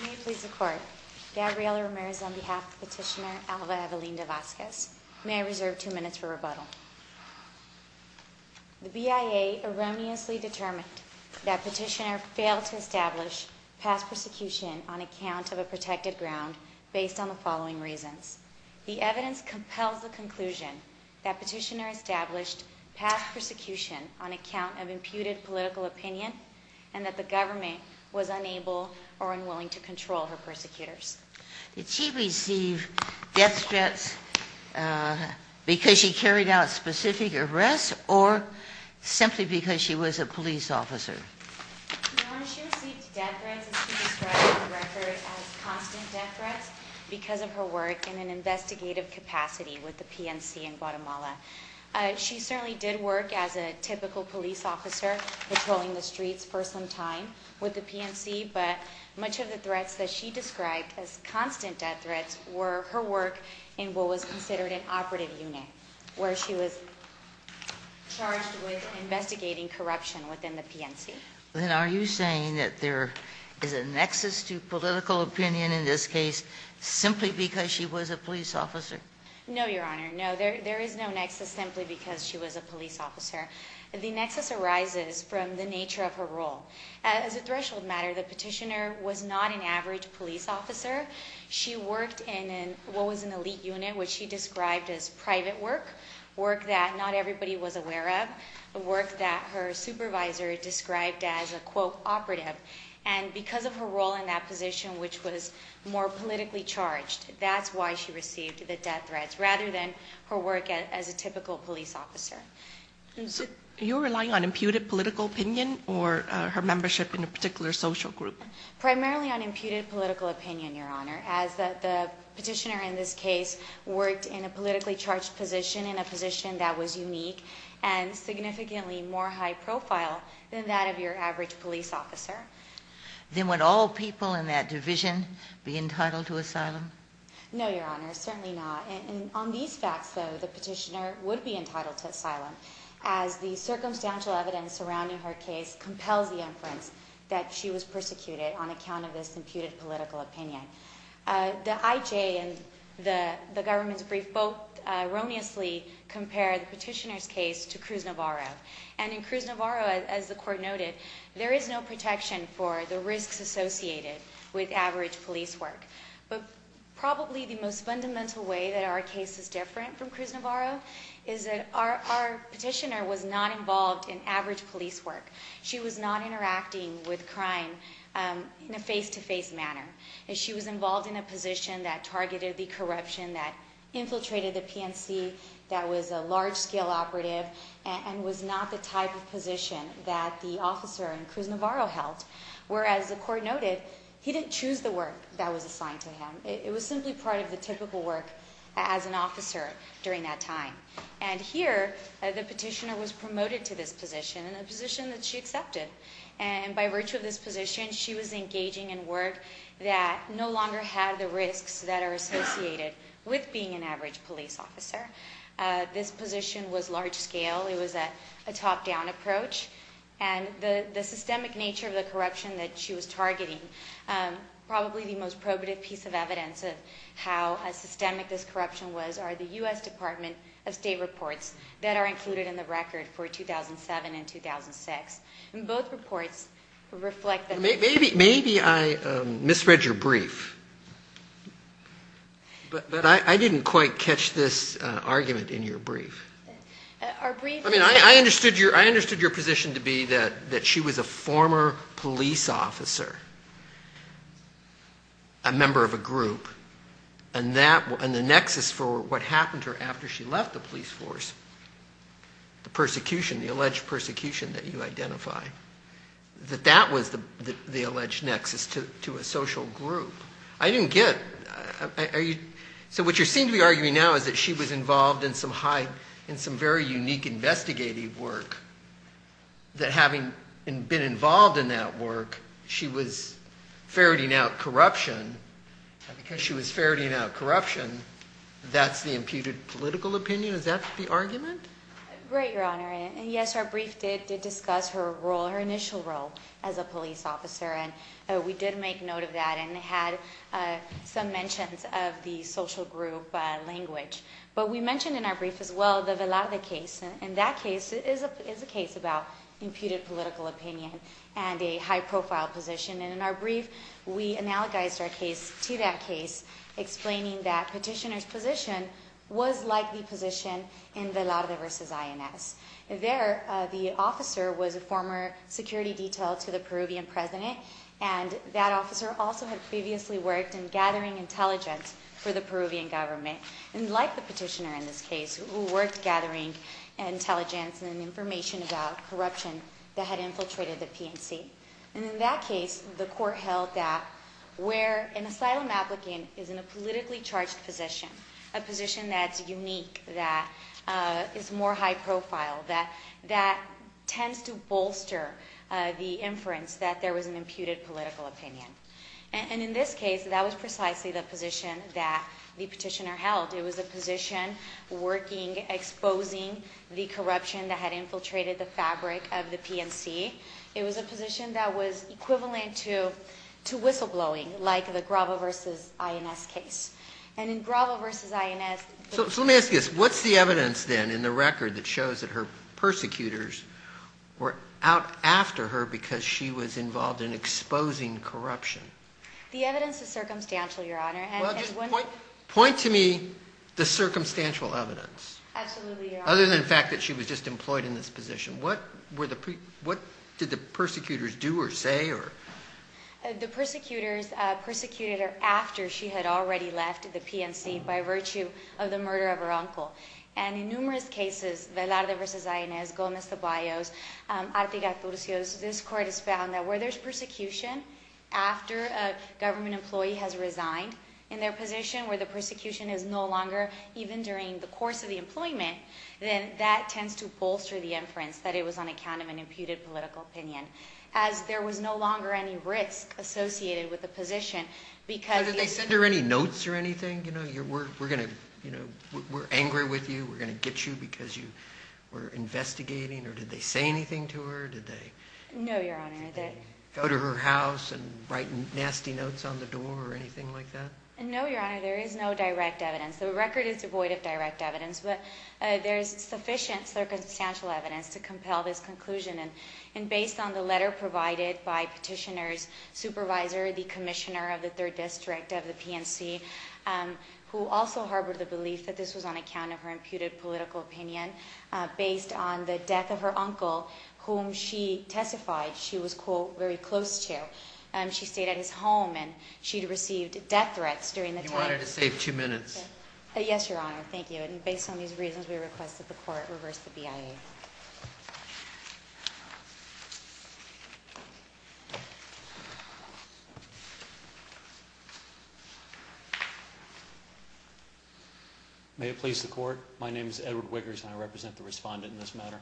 May it please the Court, Gabriela Ramirez on behalf of Petitioner Alva Evelinda-Vasquez. May I reserve two minutes for rebuttal. The BIA erroneously determined that Petitioner failed to establish past persecution on account of a protected ground based on the following reasons. The evidence compels the conclusion that Petitioner established past persecution on account of imputed political opinion and that the government was unable or unwilling to control her persecutors. Did she receive death threats because she carried out specific arrests or simply because she was a police officer? No, she received death threats as she described on the record as constant death threats because of her work in an investigative capacity with the PNC in Guatemala. She certainly did work as a typical police officer patrolling the streets for some time with the PNC, but much of the threats that she described as constant death threats were her work in what was considered an operative unit, where she was charged with investigating corruption within the PNC. Then are you saying that there is a nexus to political opinion in this case simply because she was a police officer? No, Your Honor. No, there is no nexus simply because she was a police officer. The nexus arises from the nature of her role. As a threshold matter, the Petitioner was not an average police officer. She worked in what was an elite unit, which she described as private work, work that not everybody was aware of, work that her supervisor described as a, quote, operative. And because of her role in that position, which was more politically charged, that's why she received the death threats rather than her work as a typical police officer. You're relying on imputed political opinion or her membership in a particular social group? Primarily on imputed political opinion, Your Honor, as the Petitioner in this case worked in a politically charged position, in a position that was unique and significantly more high profile than that of your average police officer. Then would all people in that division be entitled to asylum? No, Your Honor, certainly not. And on these facts, though, the Petitioner would be entitled to asylum as the circumstantial evidence surrounding her case compels the inference that she was persecuted on account of this imputed political opinion. The IJ and the government's brief both erroneously compare the Petitioner's case to Cruz Navarro. And in Cruz Navarro, as the Court noted, there is no protection for the risks associated with average police work. But probably the most fundamental way that our case is different from Cruz Navarro is that our Petitioner was not involved in average police work. She was not interacting with crime in a face-to-face manner. She was involved in a position that targeted the corruption, that infiltrated the PNC, that was a large-scale operative, and was not the type of position that the officer in Cruz Navarro held. Whereas, the Court noted, he didn't choose the work that was assigned to him. It was simply part of the typical work as an officer during that time. And here, the Petitioner was promoted to this position, a position that she accepted. And by virtue of this position, she was engaging in work that no longer had the risks that are associated with being an average police officer. This position was large-scale. It was a top-down approach. And the systemic nature of the corruption that she was targeting, probably the most probative piece of evidence of how systemic this corruption was, are the U.S. Department of State reports that are included in the record for 2007 and 2006. And both reports reflect that. Maybe I misread your brief. But I didn't quite catch this argument in your brief. I mean, I understood your position to be that she was a former police officer, a member of a group. And the nexus for what happened to her after she left the police force, the persecution, the alleged persecution that you identify, that that was the alleged nexus to a social group. I didn't get it. So what you seem to be arguing now is that she was involved in some very unique investigative work, that having been involved in that work, she was ferreting out corruption. And because she was ferreting out corruption, that's the imputed political opinion? Is that the argument? Right, Your Honor. Yes, our brief did discuss her role, her initial role as a police officer. And we did make note of that and had some mentions of the social group language. But we mentioned in our brief as well the Velarde case. And that case is a case about imputed political opinion and a high-profile position. And in our brief, we analogized our case to that case, explaining that Petitioner's position was like the position in Velarde v. INS. There, the officer was a former security detail to the Peruvian president, and that officer also had previously worked in gathering intelligence for the Peruvian government. And like the Petitioner in this case, who worked gathering intelligence and information about corruption that had infiltrated the PNC. And in that case, the court held that where an asylum applicant is in a politically charged position, a position that's unique, that is more high-profile, that tends to bolster the inference that there was an imputed political opinion. And in this case, that was precisely the position that the Petitioner held. It was a position working, exposing the corruption that had infiltrated the fabric of the PNC. It was a position that was equivalent to whistleblowing, like the Gravo v. INS case. And in Gravo v. INS... So let me ask you this. What's the evidence then in the record that shows that her persecutors were out after her because she was involved in exposing corruption? The evidence is circumstantial, Your Honor. Well, just point to me the circumstantial evidence. Absolutely, Your Honor. Other than the fact that she was just employed in this position, what did the persecutors do or say? The persecutors persecuted her after she had already left the PNC by virtue of the murder of her uncle. And in numerous cases, Velarde v. INS, Gomez de Ballos, Artigas-Turcios, this court has found that where there's persecution after a government employee has resigned, in their position where the persecution is no longer, even during the course of the employment, then that tends to bolster the inference that it was on account of an imputed political opinion, as there was no longer any risk associated with the position because... Now, did they send her any notes or anything? You know, we're angry with you, we're going to get you because you were investigating? Or did they say anything to her? No, Your Honor. Did they go to her house and write nasty notes on the door or anything like that? No, Your Honor, there is no direct evidence. The record is devoid of direct evidence, but there is sufficient circumstantial evidence to compel this conclusion. And based on the letter provided by Petitioner's supervisor, the commissioner of the 3rd District of the PNC, who also harbored the belief that this was on account of her imputed political opinion, based on the death of her uncle, whom she testified she was, quote, very close to. She stayed at his home and she'd received death threats during the time... You wanted to save two minutes. Yes, Your Honor, thank you. And based on these reasons, we request that the Court reverse the BIA. May it please the Court. My name is Edward Wiggers and I represent the respondent in this matter.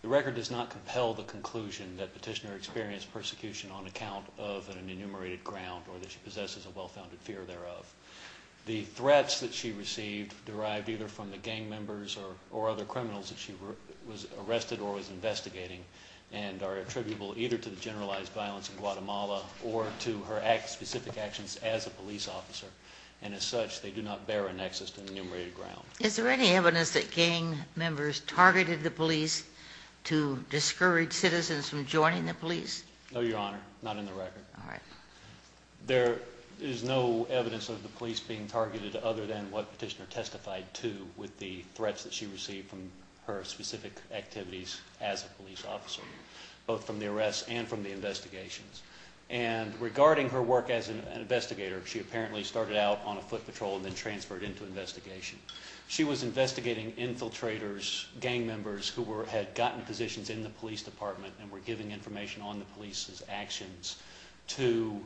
The record does not compel the conclusion that Petitioner experienced persecution on account of an enumerated ground or that she possesses a well-founded fear thereof. The threats that she received derived either from the gang members or other criminals that she was arrested or was investigating and are attributable either to the generalized violence in Guatemala or to her specific actions as a police officer. And as such, they do not bear a nexus to an enumerated ground. Is there any evidence that gang members targeted the police to discourage citizens from joining the police? No, Your Honor, not in the record. All right. There is no evidence of the police being targeted other than what Petitioner testified to with the threats that she received from her specific activities as a police officer, both from the arrests and from the investigations. And regarding her work as an investigator, she apparently started out on a foot patrol and then transferred into investigation. She was investigating infiltrators, gang members who had gotten positions in the police department and were giving information on the police's actions to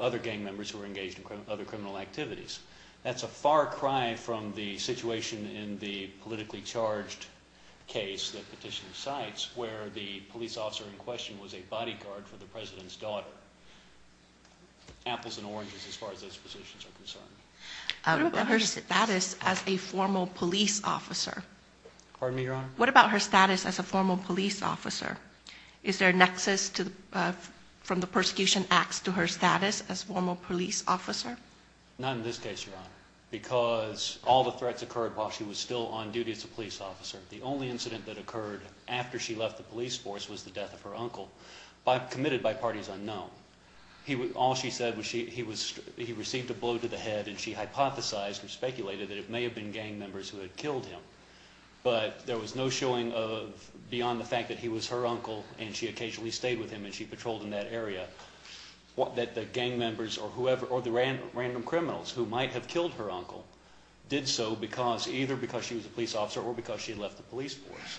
other gang members who were engaged in other criminal activities. That's a far cry from the situation in the politically charged case that Petitioner cites where the police officer in question was a bodyguard for the president's daughter. Apples and oranges as far as those positions are concerned. What about her status as a formal police officer? Pardon me, Your Honor? What about her status as a formal police officer? Is there a nexus from the persecution acts to her status as a formal police officer? Not in this case, Your Honor, because all the threats occurred while she was still on duty as a police officer. The only incident that occurred after she left the police force was the death of her uncle, committed by parties unknown. All she said was he received a blow to the head and she hypothesized and speculated that it may have been gang members who had killed him. But there was no showing beyond the fact that he was her uncle and she occasionally stayed with him and she patrolled in that area, that the gang members or the random criminals who might have killed her uncle did so either because she was a police officer or because she left the police force.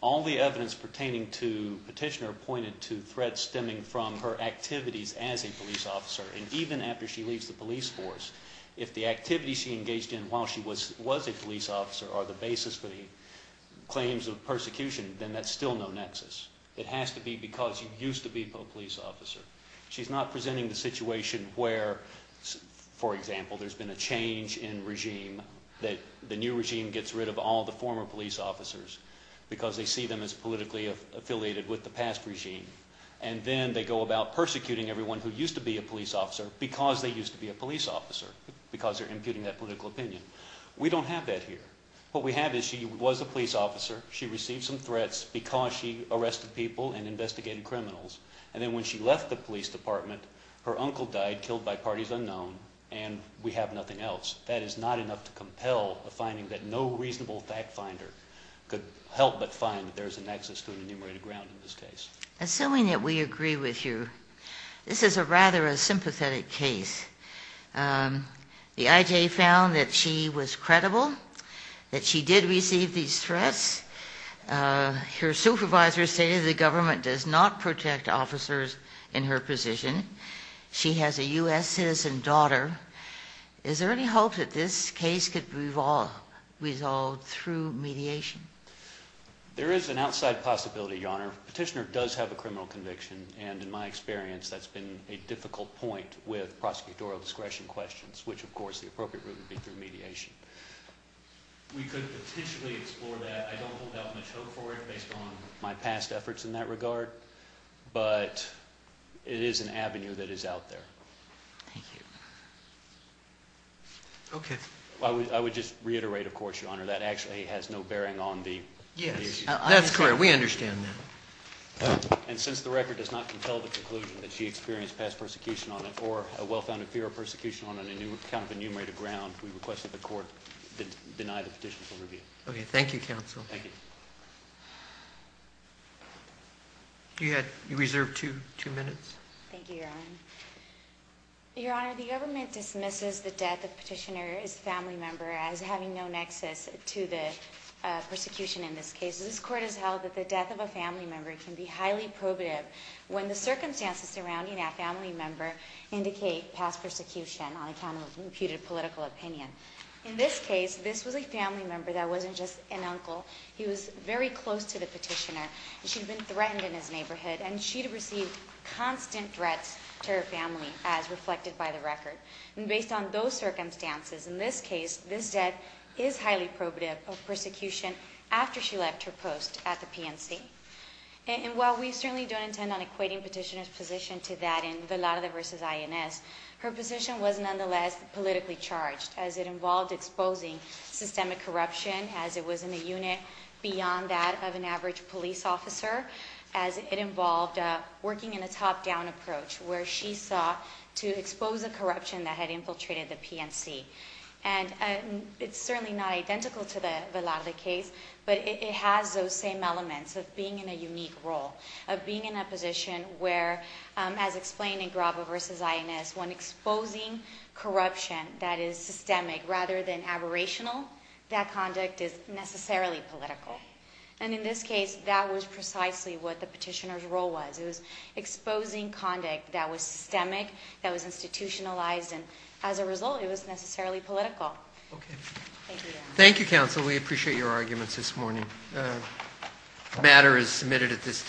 All the evidence pertaining to Petitioner pointed to threats stemming from her activities as a police officer. And even after she leaves the police force, if the activities she engaged in while she was a police officer are the basis for the claims of persecution, then that's still no nexus. It has to be because she used to be a police officer. She's not presenting the situation where, for example, there's been a change in regime, that the new regime gets rid of all the former police officers because they see them as politically affiliated with the past regime. And then they go about persecuting everyone who used to be a police officer because they used to be a police officer, because they're imputing that political opinion. We don't have that here. What we have is she was a police officer. She received some threats because she arrested people and investigated criminals. And then when she left the police department, her uncle died, killed by parties unknown, and we have nothing else. That is not enough to compel a finding that no reasonable fact finder could help but find that there's a nexus to an enumerated ground in this case. Assuming that we agree with you, this is a rather sympathetic case. The IJ found that she was credible, that she did receive these threats. Her supervisor stated the government does not protect officers in her position. She has a U.S. citizen daughter. Is there any hope that this case could be resolved through mediation? There is an outside possibility, Your Honor. Petitioner does have a criminal conviction, and in my experience, that's been a difficult point with prosecutorial discretion questions, which of course the appropriate route would be through mediation. We could potentially explore that. I don't hold out much hope for it based on my past efforts in that regard, but it is an avenue that is out there. Thank you. Okay. I would just reiterate, of course, Your Honor, that actually has no bearing on the issue. Yes, that's clear. We understand that. And since the record does not compel the conclusion that she experienced past persecution on it or a well-founded fear of persecution on an enumerated ground, we request that the court deny the petition for review. Okay. Thank you, counsel. Thank you. You had reserved two minutes. Thank you, Your Honor. Your Honor, the government dismisses the death of Petitioner, his family member, as having no nexus to the persecution in this case. This court has held that the death of a family member can be highly probative when the circumstances surrounding that family member indicate past persecution on account of imputed political opinion. In this case, this was a family member that wasn't just an uncle. He was very close to the petitioner. She had been threatened in his neighborhood, and she had received constant threats to her family as reflected by the record. And based on those circumstances, in this case, this death is highly probative of persecution after she left her post at the PNC. And while we certainly don't intend on equating Petitioner's position to that in Velarde v. INS, her position was nonetheless politically charged, as it involved exposing systemic corruption, as it was in a unit beyond that of an average police officer, as it involved working in a top-down approach, where she sought to expose the corruption that had infiltrated the PNC. And it's certainly not identical to the Velarde case, but it has those same elements of being in a unique role, of being in a position where, as explained in Graba v. INS, when exposing corruption that is systemic rather than aberrational, that conduct is necessarily political. And in this case, that was precisely what the Petitioner's role was. It was exposing conduct that was systemic, that was institutionalized, and as a result, it was necessarily political. Thank you, counsel. We appreciate your arguments this morning. The matter is submitted at this time.